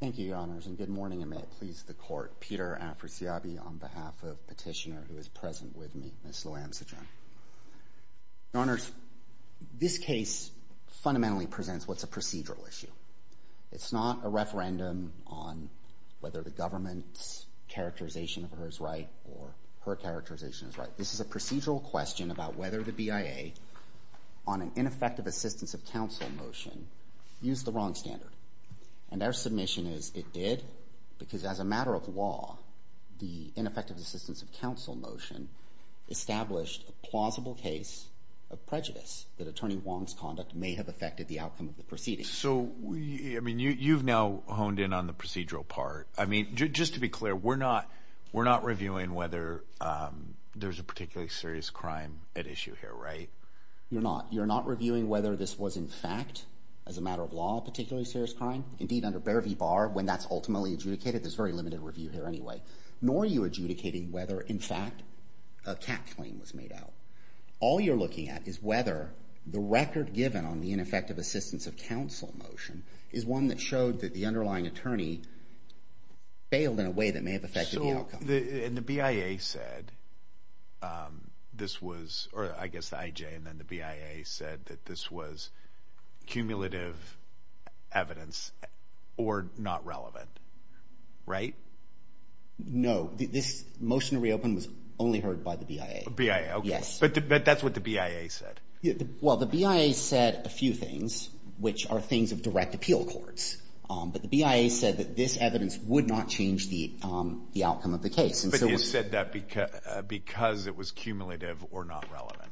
Thank you, Your Honors, and good morning, and may it please the Court. Peter Afrisiabi on behalf of Petitioner, who is present with me, Ms. Loamseejun. Your Honors, this case fundamentally presents what's a procedural issue. It's not a referendum on whether the government's characterization of her is right or her characterization is right. This is a procedural question about whether the BIA, on an ineffective assistance of counsel motion, used the wrong standard. And our submission is it did, because as a matter of law, the ineffective assistance of counsel motion established a plausible case of prejudice that Attorney Wong's conduct may have affected the outcome of the proceedings. So, I mean, you've now honed in on the procedural part. I mean, just to be clear, we're not reviewing whether there's a particularly serious crime at issue here, right? You're not. You're not reviewing whether this was, in fact, as a matter of law, a particularly serious crime. Indeed, under Bear v. Barr, when that's ultimately adjudicated, there's very limited review here anyway. Nor are you adjudicating whether, in fact, a cap claim was made out. All you're looking at is whether the record given on the ineffective assistance of counsel motion is one that showed that the underlying attorney failed in a way that may have affected the outcome. So, and the BIA said this was, or I guess the IJ and then the BIA said that this was cumulative evidence or not relevant, right? No. This motion to reopen was only heard by the BIA. BIA, okay. Yes. But that's what the BIA said. Well, the BIA said a few things, which are things of direct appeal courts. But the BIA said that this evidence would not change the outcome of the case. But you said that because it was cumulative or not relevant.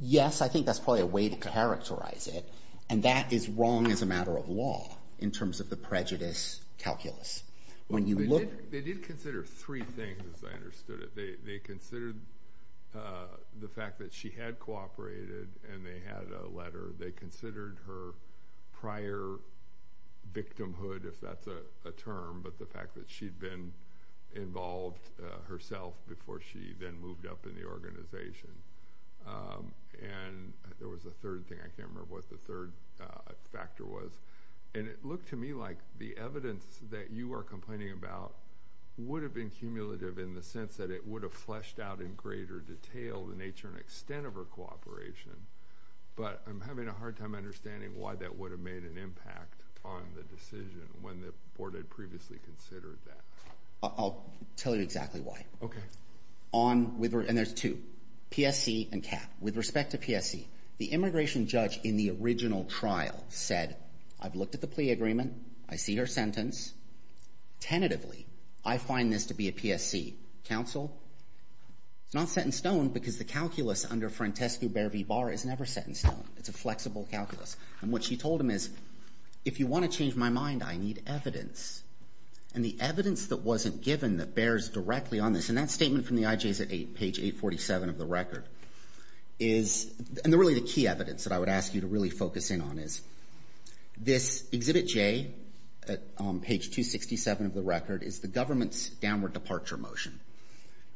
Yes. I think that's probably a way to characterize it. And that is wrong as a matter of law in terms of the prejudice calculus. When you look They did consider three things, as I understood it. They considered the fact that she had and they had a letter. They considered her prior victimhood, if that's a term, but the fact that she'd been involved herself before she then moved up in the organization. And there was a third thing. I can't remember what the third factor was. And it looked to me like the evidence that you are complaining about would have been cumulative in the sense that it would have fleshed out in greater detail the nature and extent of her cooperation. But I'm having a hard time understanding why that would have made an impact on the decision when the board had previously considered that. I'll tell you exactly why. And there's two, PSC and CAP. With respect to PSC, the immigration judge in the original trial said, I've looked at the plea agreement. I see her sentence. Tentatively, I find this to be a PSC. Counsel, it's not set in stone because the calculus under Frantescu-Bear v. Barr is never set in stone. It's a flexible calculus. And what she told him is, if you want to change my mind, I need evidence. And the evidence that wasn't given that bears directly on this, and that statement from the IJs at page 847 of the record is, and really the key evidence that I would ask you to really focus in on is, this Exhibit J on page 267 of the record is the government's downward departure motion,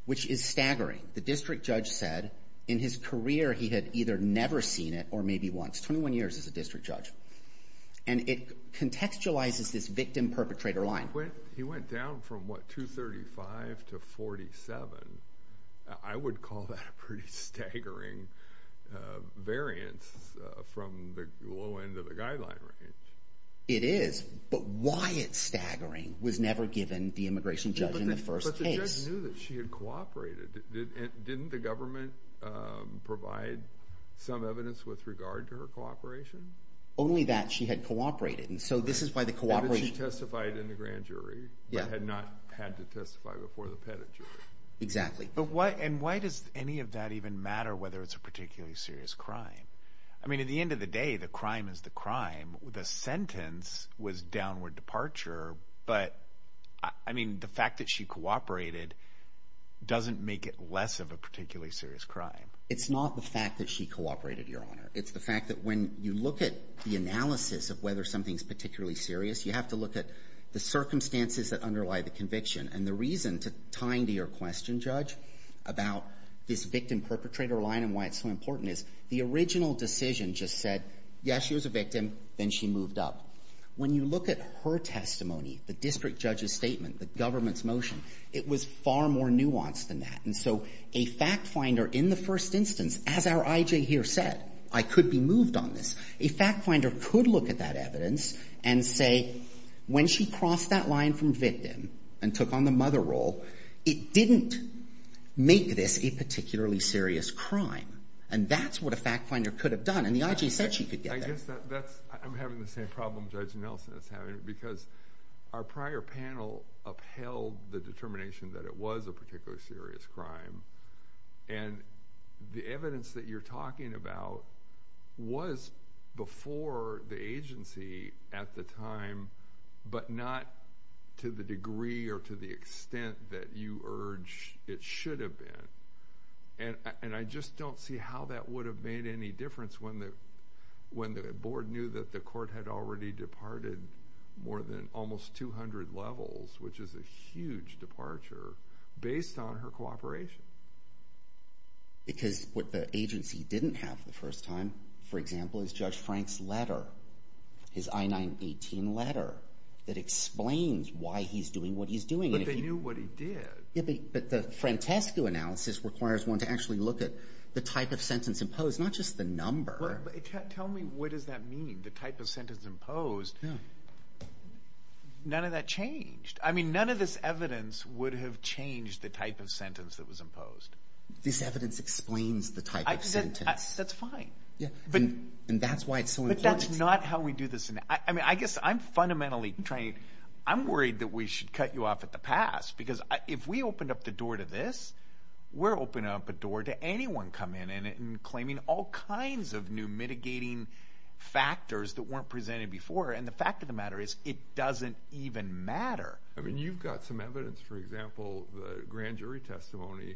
which is staggering. The district judge said, in his career, he had either never seen it or maybe once. 21 years as a district judge. And it contextualizes this victim-perpetrator line. He went down from, what, 235 to 47. I would call that a pretty staggering variance from the low end of the guideline range. It is. But why it's staggering was never given the immigration judge in the first case. But the judge knew that she had cooperated. Didn't the government provide some evidence with regard to her cooperation? Only that she had cooperated. And so this is why the cooperation… And that she testified in the grand jury, but had not had to testify before the petit jury. Exactly. And why does any of that even matter, whether it's a particularly serious crime? I mean, at the end of the day, the crime is the crime. The sentence was downward departure. But, I mean, the fact that she cooperated doesn't make it less of a particularly serious crime. It's not the fact that she cooperated, Your Honor. It's the fact that when you look at the analysis of whether something's particularly serious, you have to look at the circumstances that underlie the conviction. And the reason, tying to your question, Judge, about this victim-perpetrator line and why it's so important is the original decision just said, yes, she was a victim, then she moved up. When you look at her testimony, the district judge's statement, the government's motion, it was far more nuanced than that. And so a fact finder in the first instance, as our I.J. here said, I could be moved on this, a fact finder could look at that evidence and say, when she crossed that line from victim and took on the mother role, it didn't make this a particularly serious crime. And that's what a fact finder could have done. And the I.J. said she could get there. I guess I'm having the same problem Judge Nelson is having because our prior panel upheld the determination that it was a particularly serious crime. And the evidence that you're talking about was before the agency at the time, but not to the degree or to the extent that you urge it should have been. And I just don't see how that would have made any difference when the board knew that the court had already departed more than almost 200 levels, which is a huge departure based on her cooperation. Because what the agency didn't have the first time, for example, is Judge Frank's letter, his I-918 letter that explains why he's doing what he's doing. But they knew what he did. But the Francesco analysis requires one to actually look at the type of sentence imposed, not just the number. Tell me what does that mean, the type of sentence imposed? None of that changed. I mean, none of this evidence would have changed the type of sentence that was imposed. This evidence explains the type of sentence. That's fine. And that's why it's so important. But that's not how we do this. I mean, I guess I'm fundamentally trying to – I'm worried that we should cut you off at the pass because if we opened up the door to this, we're opening up a door to anyone coming in and claiming all kinds of new mitigating factors that weren't presented before. And the fact of the matter is it doesn't even matter. I mean, you've got some evidence, for example, the grand jury testimony,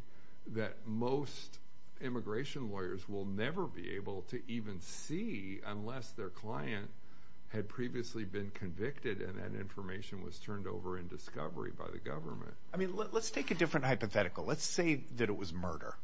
that most immigration lawyers will never be able to even see unless their client had previously been convicted and that information was turned over in discovery by the government. I mean, let's take a different hypothetical. Let's say that it was murder.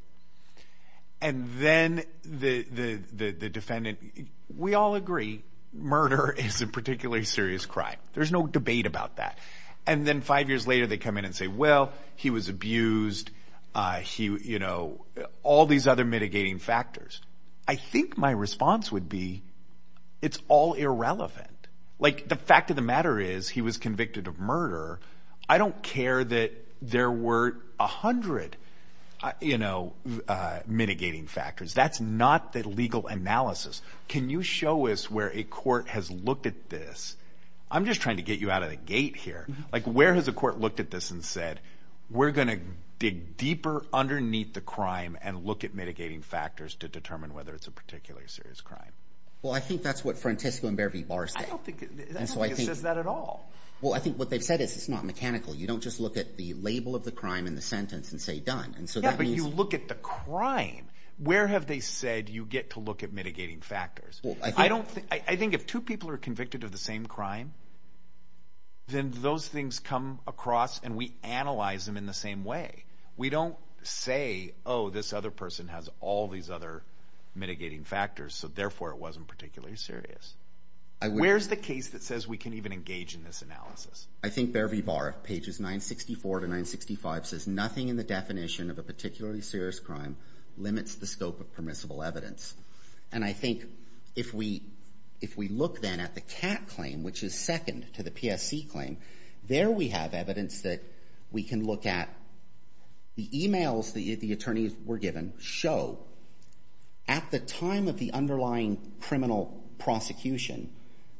And then the defendant – we all agree murder is a particularly serious crime. There's no debate about that. And then five years later they come in and say, well, he was abused, all these other mitigating factors. I think my response would be it's all irrelevant. Like, the fact of the matter is he was convicted of murder. I don't care that there were 100 mitigating factors. That's not the legal analysis. Can you show us where a court has looked at this? I'm just trying to get you out of the gate here. Like, where has a court looked at this and said we're going to dig deeper underneath the crime and look at mitigating factors to determine whether it's a particularly serious crime? Well, I think that's what Frantisco and Bear v. Barr say. I don't think it says that at all. Well, I think what they've said is it's not mechanical. You don't just look at the label of the crime in the sentence and say done. Yeah, but you look at the crime. Where have they said you get to look at mitigating factors? I think if two people are convicted of the same crime, then those things come across and we analyze them in the same way. We don't say, oh, this other person has all these other mitigating factors, so therefore it wasn't particularly serious. Where's the case that says we can even engage in this analysis? I think Bear v. Barr, pages 964 to 965, says nothing in the definition of a particularly serious crime limits the scope of permissible evidence. And I think if we look then at the CAT claim, which is second to the PSC claim, there we have evidence that we can look at the e-mails the attorneys were given show at the time of the underlying criminal prosecution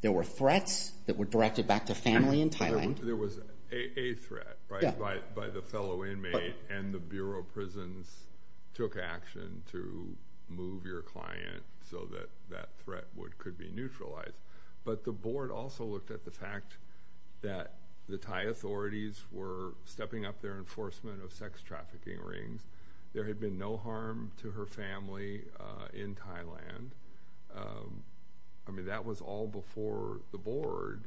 there were threats that were directed back to family in Thailand. There was a threat, right, by the fellow inmate, and the Bureau of Prisons took action to move your client so that that threat could be neutralized. But the board also looked at the fact that the Thai authorities were stepping up their enforcement of sex trafficking rings. There had been no harm to her family in Thailand. I mean, that was all before the board.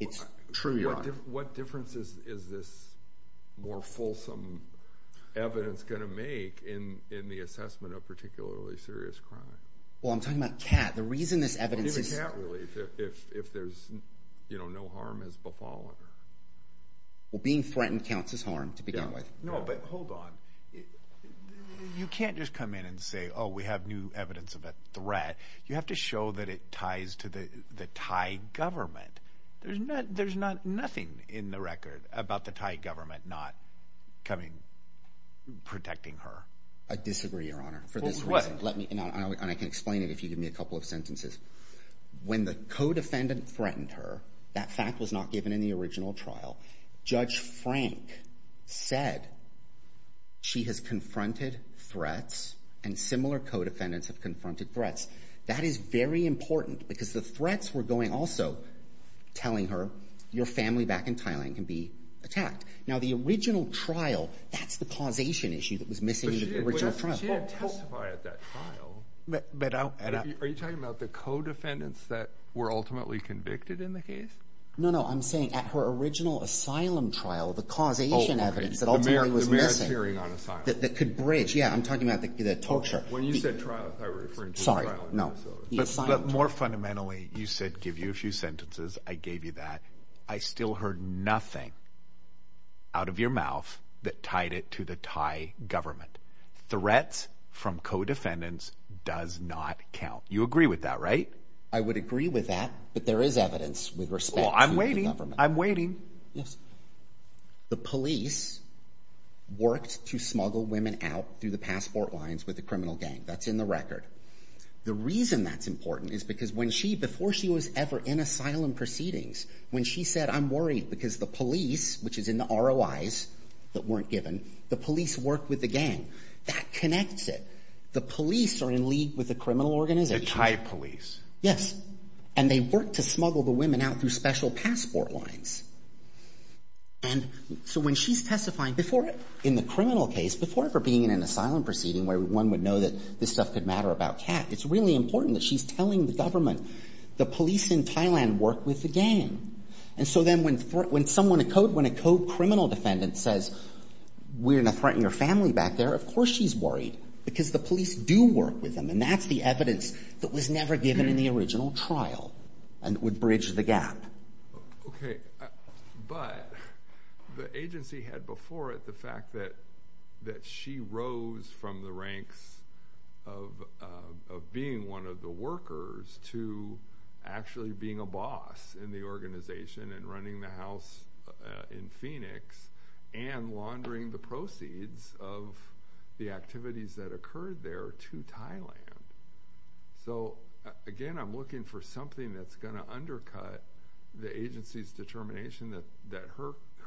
It's true, Your Honor. What difference is this more fulsome evidence going to make in the assessment of particularly serious crime? Well, I'm talking about CAT. The reason this evidence is— Even CAT, really, if there's no harm has befallen. Well, being threatened counts as harm to begin with. No, but hold on. You can't just come in and say, oh, we have new evidence of a threat. You have to show that it ties to the Thai government. There's nothing in the record about the Thai government not coming, protecting her. I disagree, Your Honor, for this reason. Let me—and I can explain it if you give me a couple of sentences. When the co-defendant threatened her, that fact was not given in the original trial. Judge Frank said she has confronted threats and similar co-defendants have confronted threats. That is very important because the threats were going also telling her your family back in Thailand can be attacked. Now, the original trial, that's the causation issue that was missing in the original trial. But she didn't testify at that trial. But I'll— Are you talking about the co-defendants that were ultimately convicted in the case? No, no. I'm saying at her original asylum trial, the causation evidence that ultimately was missing— The merit hearing on asylum. —that could bridge—yeah, I'm talking about the torture. When you said trial, I referred to the trial in Minnesota. Sorry, no, the asylum. But more fundamentally, you said give you a few sentences. I gave you that. I still heard nothing out of your mouth that tied it to the Thai government. Threats from co-defendants does not count. You agree with that, right? I would agree with that, but there is evidence with respect to the government. Well, I'm waiting. I'm waiting. Yes. The police worked to smuggle women out through the passport lines with the criminal gang. That's in the record. The reason that's important is because when she—before she was ever in asylum proceedings, when she said, I'm worried because the police, which is in the ROIs that weren't given, the police worked with the gang. That connects it. The police are in league with the criminal organization. The Thai police. Yes. And they worked to smuggle the women out through special passport lines. And so when she's testifying before—in the criminal case, before ever being in an asylum proceeding where one would know that this stuff could matter about Kat, it's really important that she's telling the government the police in Thailand work with the gang. And so then when someone—when a co-criminal defendant says, we're going to threaten your family back there, of course she's worried because the police do work with them. And that's the evidence that was never given in the original trial and would bridge the gap. Okay. But the agency had before it the fact that she rose from the ranks of being one of the workers to actually being a boss in the organization and running the house in Phoenix and laundering the proceeds of the activities that occurred there to Thailand. So, again, I'm looking for something that's going to undercut the agency's determination that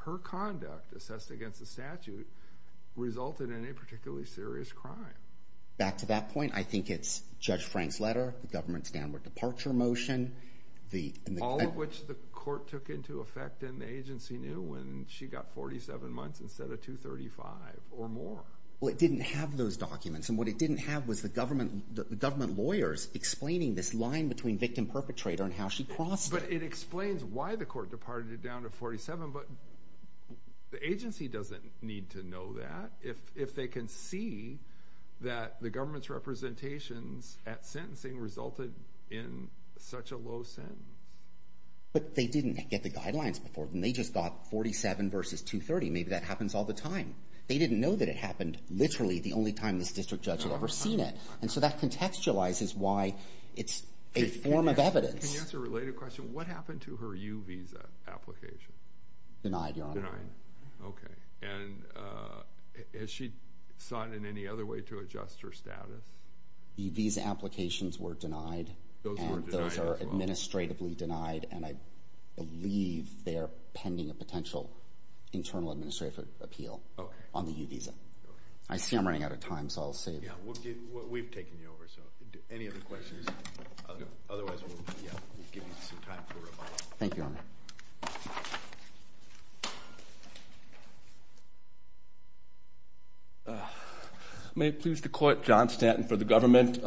her conduct assessed against the statute resulted in a particularly serious crime. Back to that point, I think it's Judge Frank's letter, the government's downward departure motion, the— All of which the court took into effect and the agency knew when she got 47 months instead of 235 or more. Well, it didn't have those documents, and what it didn't have was the government lawyers explaining this line between victim-perpetrator and how she crossed it. But it explains why the court departed it down to 47, but the agency doesn't need to know that. If they can see that the government's representations at sentencing resulted in such a low sentence. But they didn't get the guidelines before, and they just got 47 versus 230. Maybe that happens all the time. They didn't know that it happened literally the only time this district judge had ever seen it. And so that contextualizes why it's a form of evidence. Can you answer a related question? What happened to her U visa application? Denied, Your Honor. Denied. Okay. And has she sought in any other way to adjust her status? The visa applications were denied. Those were denied as well. Those are administratively denied, and I believe they are pending a potential internal administrative appeal on the U visa. I see I'm running out of time, so I'll save it. Yeah, we've taken you over, so any other questions? Otherwise, we'll give you some time for a follow-up. Thank you, Your Honor. May it please the Court, John Stanton for the government.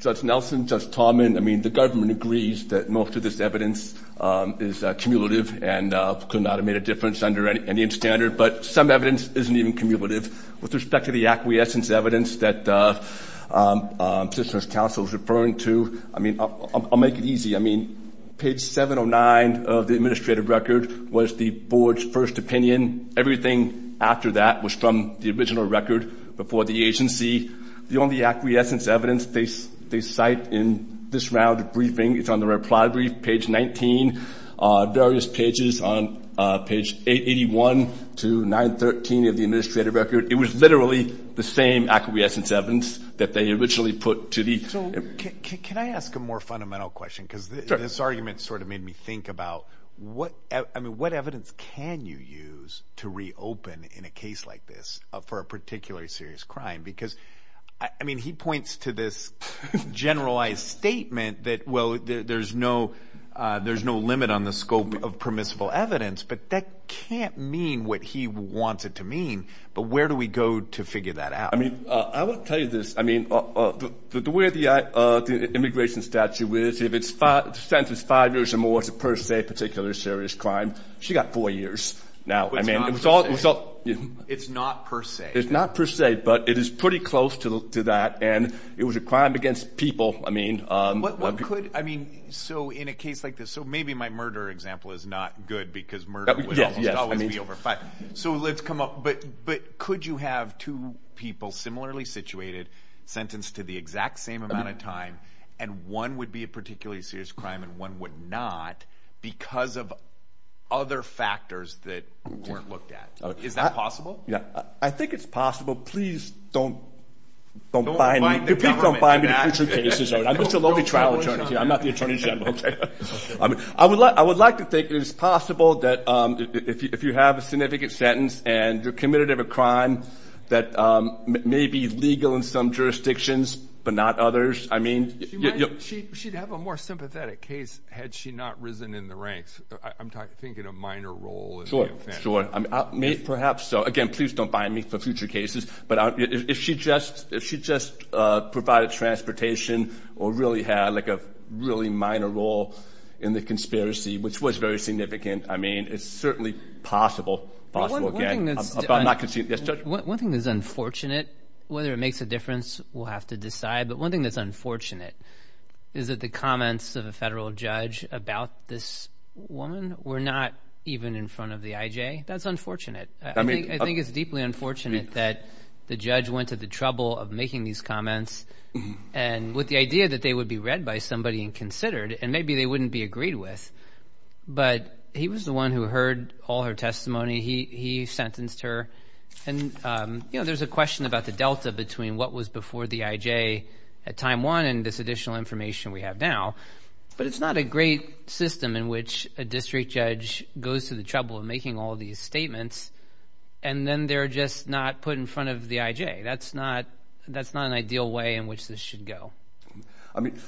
Judge Nelson, Judge Tallman, I mean, the government agrees that most of this evidence is cumulative and could not have made a difference under any standard, but some evidence isn't even cumulative. With respect to the acquiescence evidence that the position of counsel is referring to, I mean, I'll make it easy. I mean, page 709 of the administrative record was the board's first opinion. Everything after that was from the original record before the agency. The only acquiescence evidence they cite in this round of briefing is on the reply brief, page 19. Various pages on page 881 to 913 of the administrative record, it was literally the same acquiescence evidence that they originally put to the- So can I ask a more fundamental question? Sure. This argument sort of made me think about what evidence can you use to reopen in a case like this for a particularly serious crime? Because, I mean, he points to this generalized statement that, well, there's no limit on the scope of permissible evidence, but that can't mean what he wants it to mean, but where do we go to figure that out? I mean, I will tell you this. I mean, the way the immigration statute is, if the sentence is five years or more, it's a per se particular serious crime. She got four years now. It's not per se. It's not per se, but it is pretty close to that, and it was a crime against people. I mean, so in a case like this, so maybe my murder example is not good because murder would always be over five. So let's come up. But could you have two people similarly situated, sentenced to the exact same amount of time, and one would be a particularly serious crime and one would not because of other factors that weren't looked at? Is that possible? Yeah. I think it's possible. Please don't- Don't bind the government to that. Please don't bind me to future cases. I'm just a lovely trial attorney here. I'm not the attorney general. I would like to think it is possible that if you have a significant sentence and you're committed of a crime that may be legal in some jurisdictions but not others, I mean- She'd have a more sympathetic case had she not risen in the ranks. I'm thinking a minor role in the offense. Sure, sure. Perhaps so. Again, please don't bind me for future cases. But if she just provided transportation or really had like a really minor role in the conspiracy, which was very significant, I mean it's certainly possible. One thing that's unfortunate, whether it makes a difference, we'll have to decide, but one thing that's unfortunate is that the comments of a federal judge about this woman were not even in front of the IJ. That's unfortunate. I mean- I think it's deeply unfortunate that the judge went to the trouble of making these comments and with the idea that they would be read by somebody and considered and maybe they wouldn't be agreed with. But he was the one who heard all her testimony. He sentenced her. And, you know, there's a question about the delta between what was before the IJ at time one and this additional information we have now. But it's not a great system in which a district judge goes to the trouble of making all these statements and then they're just not put in front of the IJ. That's not an ideal way in which this should go. I mean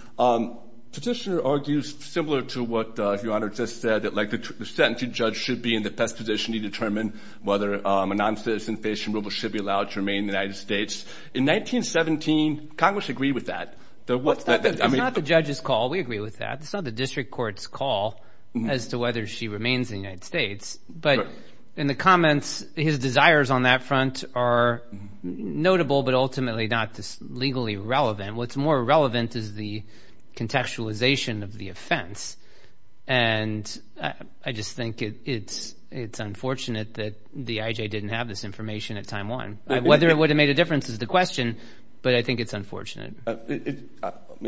petitioner argues similar to what Your Honor just said, that like the sentencing judge should be in the best position to determine whether a non-citizen-facing woman should be allowed to remain in the United States. In 1917, Congress agreed with that. It's not the judge's call. We agree with that. It's not the district court's call as to whether she remains in the United States. But in the comments, his desires on that front are notable but ultimately not legally relevant. What's more relevant is the contextualization of the offense. And I just think it's unfortunate that the IJ didn't have this information at time one. Whether it would have made a difference is the question, but I think it's unfortunate.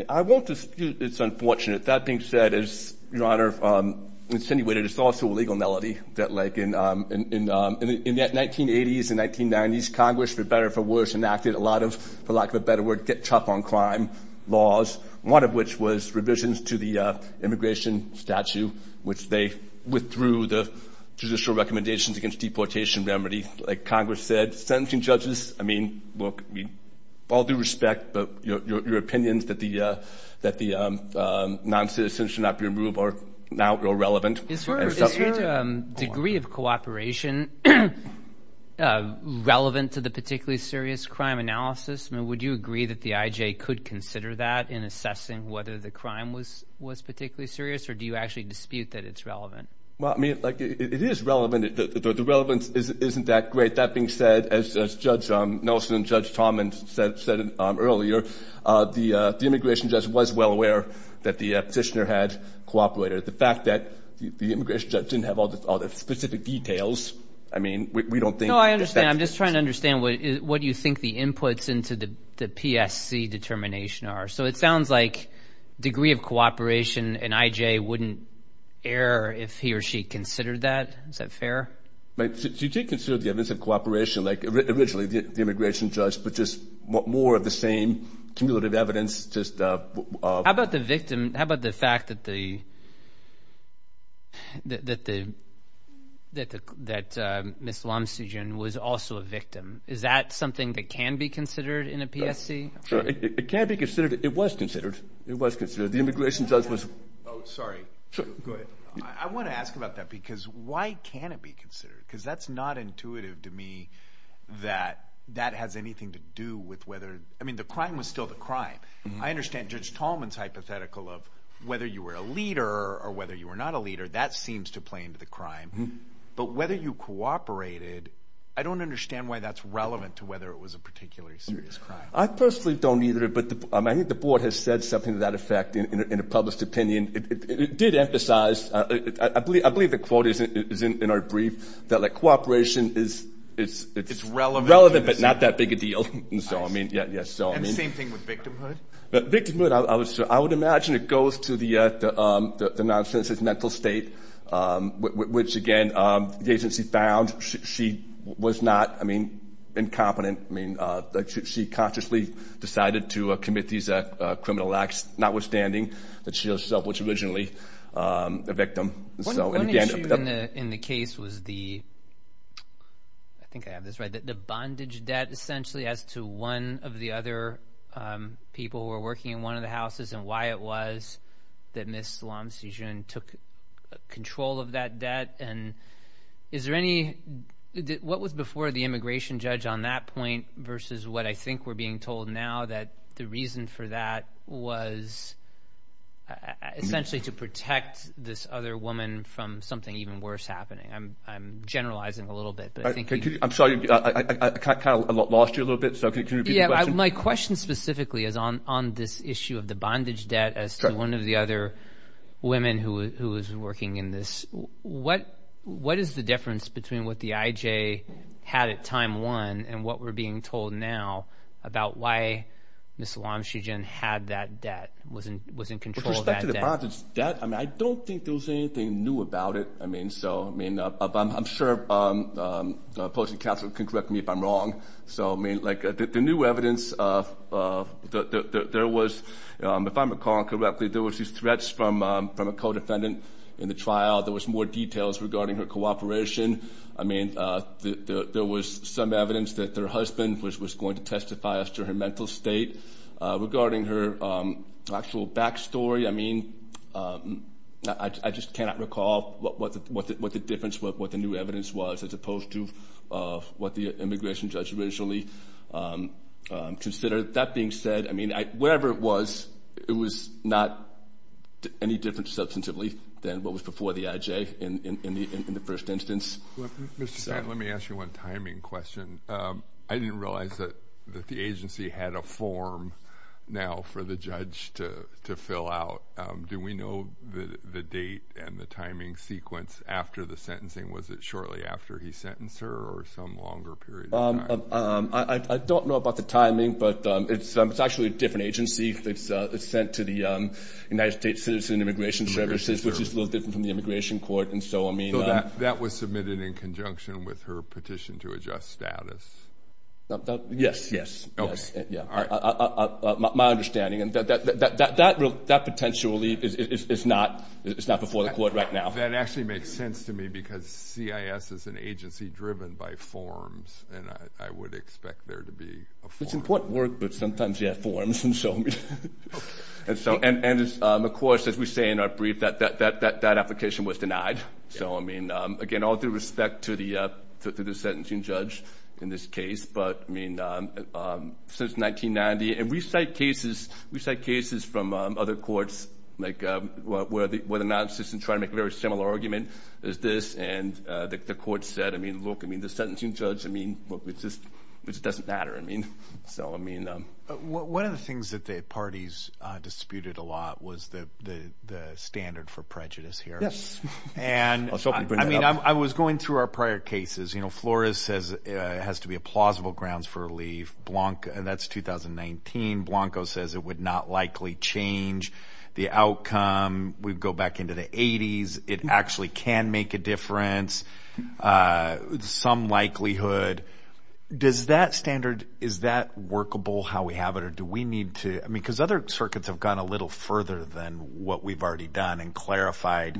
I won't dispute it's unfortunate. That being said, as Your Honor insinuated, it's also a legal malady that like in the 1980s and 1990s, Congress, for better or for worse, enacted a lot of, for lack of a better word, get tough on crime laws, one of which was revisions to the immigration statute, which they withdrew the judicial recommendations against deportation remedy. Like Congress said, sentencing judges, I mean, look, all due respect, but your opinions that the noncitizens should not be removed are now irrelevant. Is her degree of cooperation relevant to the particularly serious crime analysis? I mean, would you agree that the IJ could consider that in assessing whether the crime was particularly serious, or do you actually dispute that it's relevant? Well, I mean, like it is relevant. The relevance isn't that great. That being said, as Judge Nelson and Judge Tomlin said earlier, the immigration judge was well aware that the petitioner had cooperated. The fact that the immigration judge didn't have all the specific details, I mean, we don't think. No, I understand. I'm just trying to understand what you think the inputs into the PSC determination are. So it sounds like degree of cooperation in IJ wouldn't err if he or she considered that. Is that fair? She did consider the evidence of cooperation, like originally the immigration judge, but just more of the same cumulative evidence. How about the victim? How about the fact that Ms. Lomstead was also a victim? Is that something that can be considered in a PSC? It can be considered. It was considered. It was considered. The immigration judge was. Oh, sorry. Go ahead. I want to ask about that because why can it be considered? Because that's not intuitive to me that that has anything to do with whether, I mean, the crime was still the crime. I understand Judge Tomlin's hypothetical of whether you were a leader or whether you were not a leader. That seems to play into the crime. But whether you cooperated, I don't understand why that's relevant to whether it was a particularly serious crime. I personally don't either, but I think the board has said something to that effect in a published opinion. It did emphasize, I believe the quote is in our brief, that, like, cooperation is relevant but not that big a deal. And the same thing with victimhood? Victimhood, I would imagine it goes to the nonsense of mental state, which, again, the agency found she was not, I mean, incompetent. I mean, she consciously decided to commit these criminal acts, notwithstanding that she herself was originally a victim. One issue in the case was the – I think I have this right – the bondage debt, essentially, as to one of the other people who were working in one of the houses and why it was that Ms. Salam Sijun took control of that debt. And is there any – what was before the immigration judge on that point versus what I think we're being told now, that the reason for that was essentially to protect this other woman from something even worse happening? I'm generalizing a little bit. I'm sorry. I kind of lost you a little bit, so can you repeat the question? My question specifically is on this issue of the bondage debt as to one of the other women who was working in this. What is the difference between what the IJ had at time one and what we're being told now about why Ms. Salam Sijun had that debt, was in control of that debt? With respect to the bondage debt, I mean, I don't think there was anything new about it. I mean, so – I mean, I'm sure the opposing counsel can correct me if I'm wrong. So, I mean, like the new evidence of – there was – if I'm recalling correctly, there was these threats from a co-defendant in the trial. There was more details regarding her cooperation. I mean, there was some evidence that her husband was going to testify as to her mental state. Regarding her actual back story, I mean, I just cannot recall what the difference, what the new evidence was as opposed to what the immigration judge originally considered. That being said, I mean, wherever it was, it was not any different substantively than what was before the IJ in the first instance. Mr. Kent, let me ask you one timing question. I didn't realize that the agency had a form now for the judge to fill out. Do we know the date and the timing sequence after the sentencing? Was it shortly after he sentenced her or some longer period of time? I don't know about the timing, but it's actually a different agency. It's sent to the United States Citizen Immigration Services, which is a little different from the immigration court. That was submitted in conjunction with her petition to adjust status? Yes, yes. My understanding, that potentially is not before the court right now. That actually makes sense to me because CIS is an agency driven by forms, and I would expect there to be a form. It's important work, but sometimes you have forms. And, of course, as we say in our brief, that application was denied. So, I mean, again, all due respect to the sentencing judge in this case. But, I mean, since 1990, and we cite cases from other courts where the non-existent tried to make a very similar argument as this, and the court said, I mean, look, I mean, the sentencing judge, I mean, look, it just doesn't matter. One of the things that the parties disputed a lot was the standard for prejudice here. And, I mean, I was going through our prior cases. You know, Flores says it has to be a plausible grounds for relief. That's 2019. Blanco says it would not likely change the outcome. We go back into the 80s. It actually can make a difference, some likelihood. Does that standard, is that workable how we have it, or do we need to, I mean, because other circuits have gone a little further than what we've already done and clarified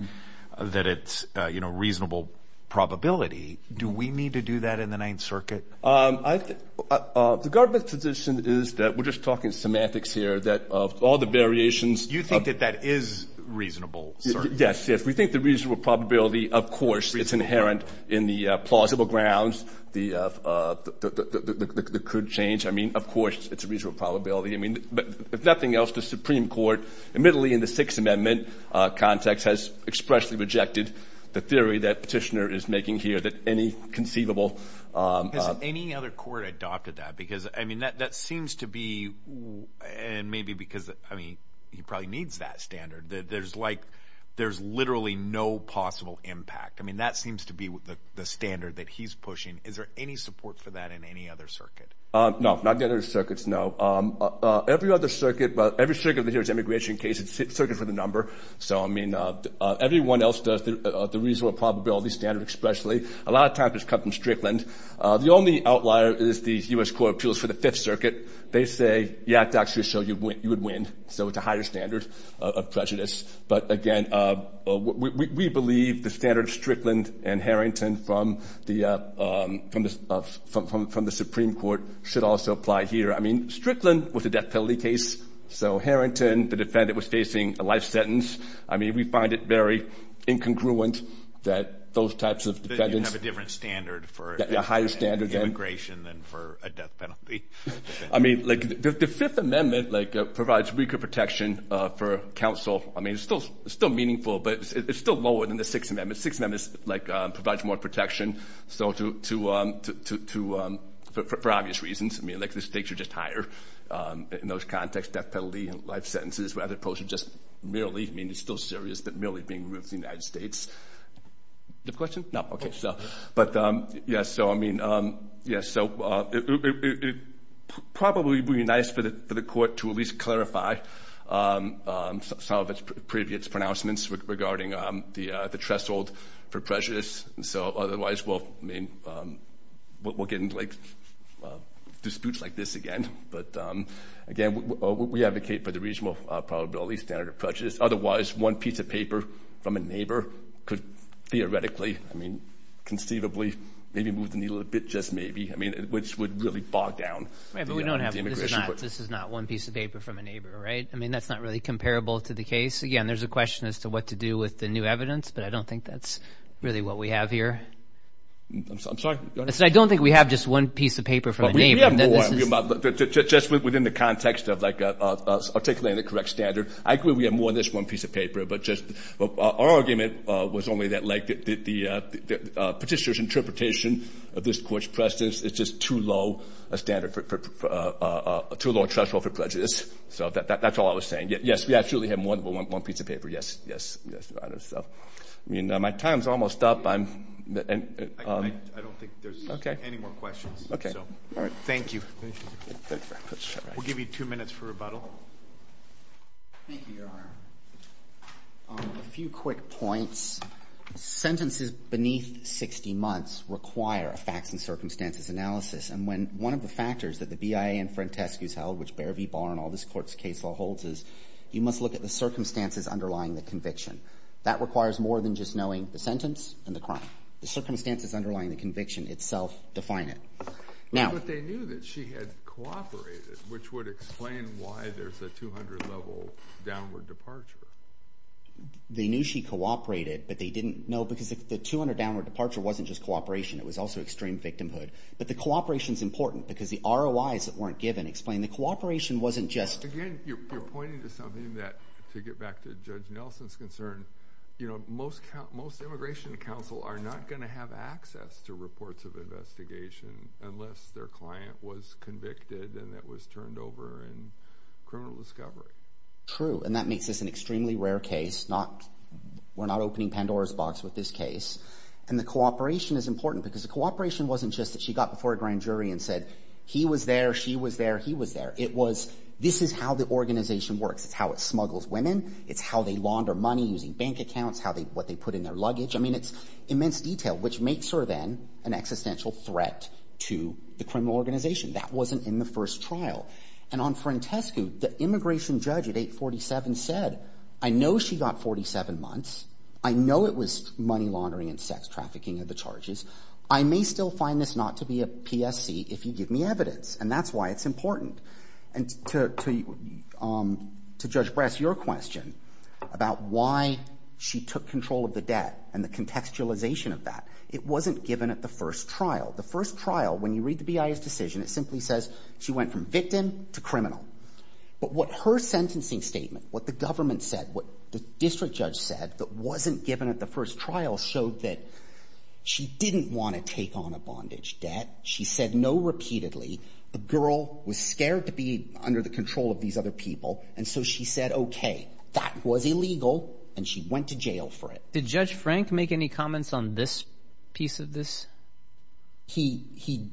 that it's, you know, reasonable probability. Do we need to do that in the Ninth Circuit? The government's position is that we're just talking semantics here, that of all the variations. You think that that is reasonable, sir? Yes. If we think the reasonable probability, of course, it's inherent in the plausible grounds that could change. I mean, of course, it's a reasonable probability. I mean, if nothing else, the Supreme Court, admittedly in the Sixth Amendment context, has expressly rejected the theory that Petitioner is making here that any conceivable. Has any other court adopted that? Because, I mean, that seems to be, and maybe because, I mean, he probably needs that standard. There's, like, there's literally no possible impact. I mean, that seems to be the standard that he's pushing. Is there any support for that in any other circuit? No, not in any other circuits, no. Every other circuit, every circuit that hears the immigration case, it's circuit for the number. So, I mean, everyone else does the reasonable probability standard expressly. A lot of times it's come from Strickland. The only outlier is the U.S. Court of Appeals for the Fifth Circuit. They say, yeah, actually, so you would win. So it's a higher standard of prejudice. But, again, we believe the standard of Strickland and Harrington from the Supreme Court should also apply here. I mean, Strickland was a death penalty case. So Harrington, the defendant, was facing a life sentence. I mean, we find it very incongruent that those types of defendants. They have a different standard for immigration than for a death penalty. I mean, the Fifth Amendment provides weaker protection for counsel. I mean, it's still meaningful, but it's still lower than the Sixth Amendment. The Sixth Amendment provides more protection for obvious reasons. I mean, the stakes are just higher in those contexts, death penalty and life sentences, as opposed to just merely, I mean, it's still serious, but merely being removed from the United States. Do you have a question? No, okay. But, yes, so I mean, yes, so it probably would be nice for the court to at least clarify some of its previous pronouncements regarding the threshold for prejudice. And so otherwise we'll get into disputes like this again. But, again, we advocate for the reasonable probability standard of prejudice. Otherwise, one piece of paper from a neighbor could theoretically, I mean, conceivably, maybe move the needle a bit just maybe, I mean, which would really bog down the immigration court. This is not one piece of paper from a neighbor, right? I mean, that's not really comparable to the case. Again, there's a question as to what to do with the new evidence, but I don't think that's really what we have here. I'm sorry? I don't think we have just one piece of paper from a neighbor. We have more. Just within the context of, like, articulating the correct standard. I agree we have more than just one piece of paper, but just our argument was only that, like, the petitioner's interpretation of this court's precedence is just too low a standard, too low a threshold for prejudice. So that's all I was saying. Yes, we actually have more than one piece of paper. Yes, yes. So, I mean, my time's almost up. I don't think there's any more questions. Okay. All right. Thank you. We'll give you two minutes for rebuttal. Thank you, Your Honor. A few quick points. Sentences beneath 60 months require a facts and circumstances analysis, and when one of the factors that the BIA and Frantescu's held, which Beare v. Barr and all this court's case law holds, is you must look at the circumstances underlying the conviction. That requires more than just knowing the sentence and the crime. The circumstances underlying the conviction itself define it. But they knew that she had cooperated, which would explain why there's a 200-level downward departure. They knew she cooperated, but they didn't know because the 200-downward departure wasn't just cooperation. It was also extreme victimhood. But the cooperation's important because the ROIs that weren't given explain the cooperation wasn't just— Again, you're pointing to something that, to get back to Judge Nelson's concern, most immigration counsel are not going to have access to reports of investigation unless their client was convicted and it was turned over in criminal discovery. True, and that makes this an extremely rare case. We're not opening Pandora's box with this case. And the cooperation is important because the cooperation wasn't just that she got before a grand jury and said, he was there, she was there, he was there. This is how the organization works. It's how it smuggles women. It's how they launder money using bank accounts, what they put in their luggage. I mean, it's immense detail, which makes her then an existential threat to the criminal organization. That wasn't in the first trial. And on Frantescu, the immigration judge at 847 said, I know she got 47 months. I know it was money laundering and sex trafficking are the charges. I may still find this not to be a PSC if you give me evidence, and that's why it's important. And to Judge Brass, your question about why she took control of the debt and the contextualization of that, it wasn't given at the first trial. The first trial, when you read the BIA's decision, it simply says she went from victim to criminal. But what her sentencing statement, what the government said, what the district judge said that wasn't given at the first trial showed that she didn't want to take on a bondage debt. She said no repeatedly. The girl was scared to be under the control of these other people, and so she said, okay, that was illegal, and she went to jail for it. Did Judge Frank make any comments on this piece of this? He,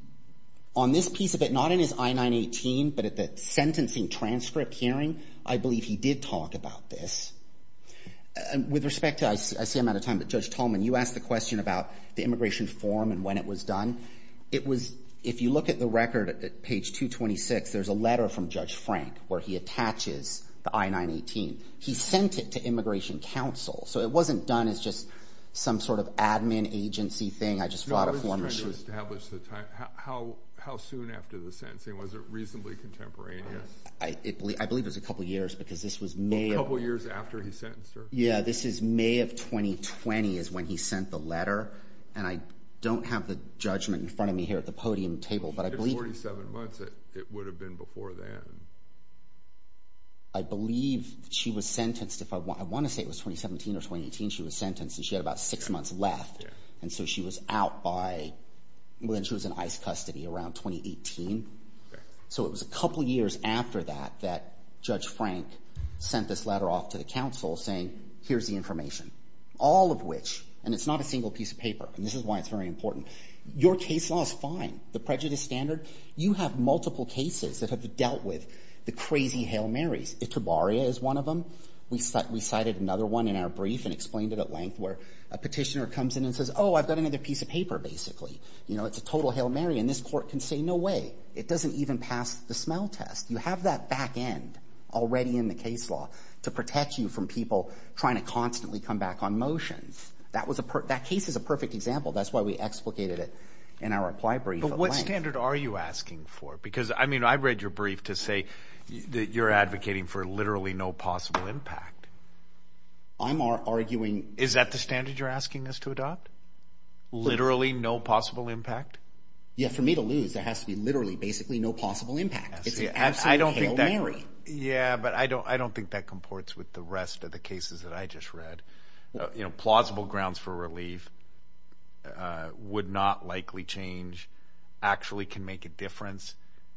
on this piece of it, not in his I-918, but at the sentencing transcript hearing, I believe he did talk about this. With respect to, I see I'm out of time, but Judge Tolman, you asked the question about the immigration form and when it was done. It was, if you look at the record at page 226, there's a letter from Judge Frank where he attaches the I-918. He sent it to Immigration Council, so it wasn't done as just some sort of admin agency thing. I just brought a form. No, I was just trying to establish the time. How soon after the sentencing? Was it reasonably contemporaneous? I believe it was a couple years because this was May. A couple years after he sentenced her? Yeah, this is May of 2020 is when he sent the letter. And I don't have the judgment in front of me here at the podium table, but I believe If it was 47 months, it would have been before then. I believe she was sentenced, if I want to say it was 2017 or 2018, she was sentenced and she had about six months left. And so she was out by, she was in ICE custody around 2018. So it was a couple years after that that Judge Frank sent this letter off to the council saying, here's the information. All of which, and it's not a single piece of paper, and this is why it's very important. Your case law is fine. The prejudice standard. You have multiple cases that have dealt with the crazy Hail Marys. Itabaria is one of them. We cited another one in our brief and explained it at length where a petitioner comes in and says, oh, I've got another piece of paper, basically. You know, it's a total Hail Mary, and this court can say, no way. It doesn't even pass the smell test. You have that back end already in the case law to protect you from people trying to back on motions. That case is a perfect example. That's why we explicated it in our reply brief at length. But what standard are you asking for? Because, I mean, I read your brief to say that you're advocating for literally no possible impact. I'm arguing. Is that the standard you're asking us to adopt? Literally no possible impact? Yeah, for me to lose, there has to be literally, basically, no possible impact. It's an absolute Hail Mary. Yeah, but I don't think that comports with the rest of the cases that I just read. You know, plausible grounds for relief, would not likely change, actually can make a difference.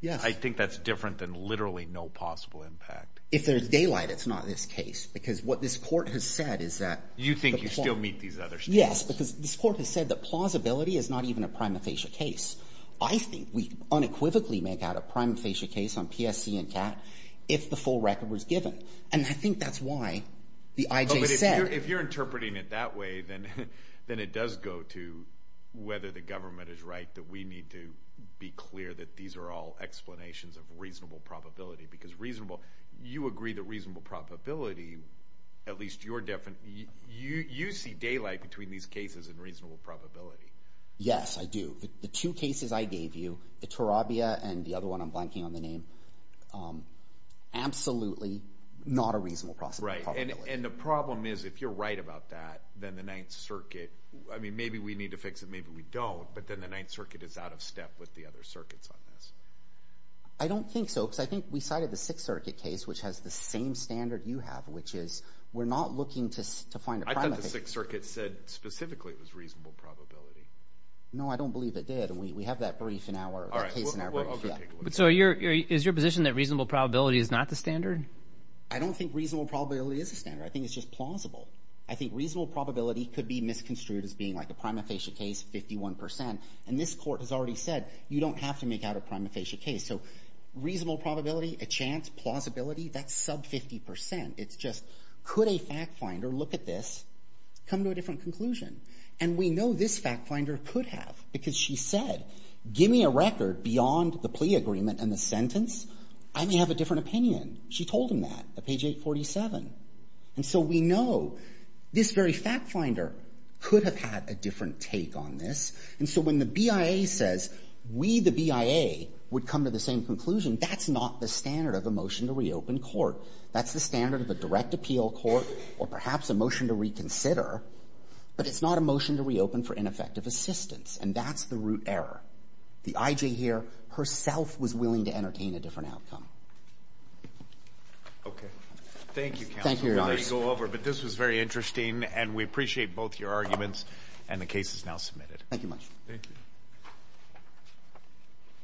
I think that's different than literally no possible impact. If there's daylight, it's not this case. Because what this court has said is that. You think you still meet these other standards? Yes, because this court has said that plausibility is not even a prima facie case. I think we unequivocally make out a prima facie case on PSC and CAT if the full record was given. And I think that's why the IJ said. But if you're interpreting it that way, then it does go to whether the government is right, that we need to be clear that these are all explanations of reasonable probability. Because reasonable, you agree that reasonable probability, at least your definition, you see daylight between these cases and reasonable probability. Yes, I do. The two cases I gave you, the Tarabia and the other one I'm blanking on the name, absolutely not a reasonable probability. Right, and the problem is if you're right about that, then the Ninth Circuit, I mean, maybe we need to fix it, maybe we don't, but then the Ninth Circuit is out of step with the other circuits on this. I don't think so, because I think we cited the Sixth Circuit case, which has the same standard you have, which is we're not looking to find a prima facie. I thought the Sixth Circuit said specifically it was reasonable probability. No, I don't believe it did, and we have that case in our brief. So is your position that reasonable probability is not the standard? I don't think reasonable probability is the standard. I think it's just plausible. I think reasonable probability could be misconstrued as being like a prima facie case, 51 percent, and this court has already said you don't have to make out a prima facie case. So reasonable probability, a chance, plausibility, that's sub 50 percent. It's just could a fact finder look at this, come to a different conclusion? And we know this fact finder could have, because she said give me a record beyond the plea agreement and the sentence, I may have a different opinion. She told him that at page 847. And so we know this very fact finder could have had a different take on this. And so when the BIA says we, the BIA, would come to the same conclusion, that's not the standard of a motion to reopen court. That's the standard of a direct appeal court or perhaps a motion to reconsider. But it's not a motion to reopen for ineffective assistance. And that's the root error. The I.J. here herself was willing to entertain a different outcome. Okay. Thank you, counsel. Thank you, Your Honor. We're ready to go over, but this was very interesting, and we appreciate both your arguments, and the case is now submitted. Thank you much. Thank you.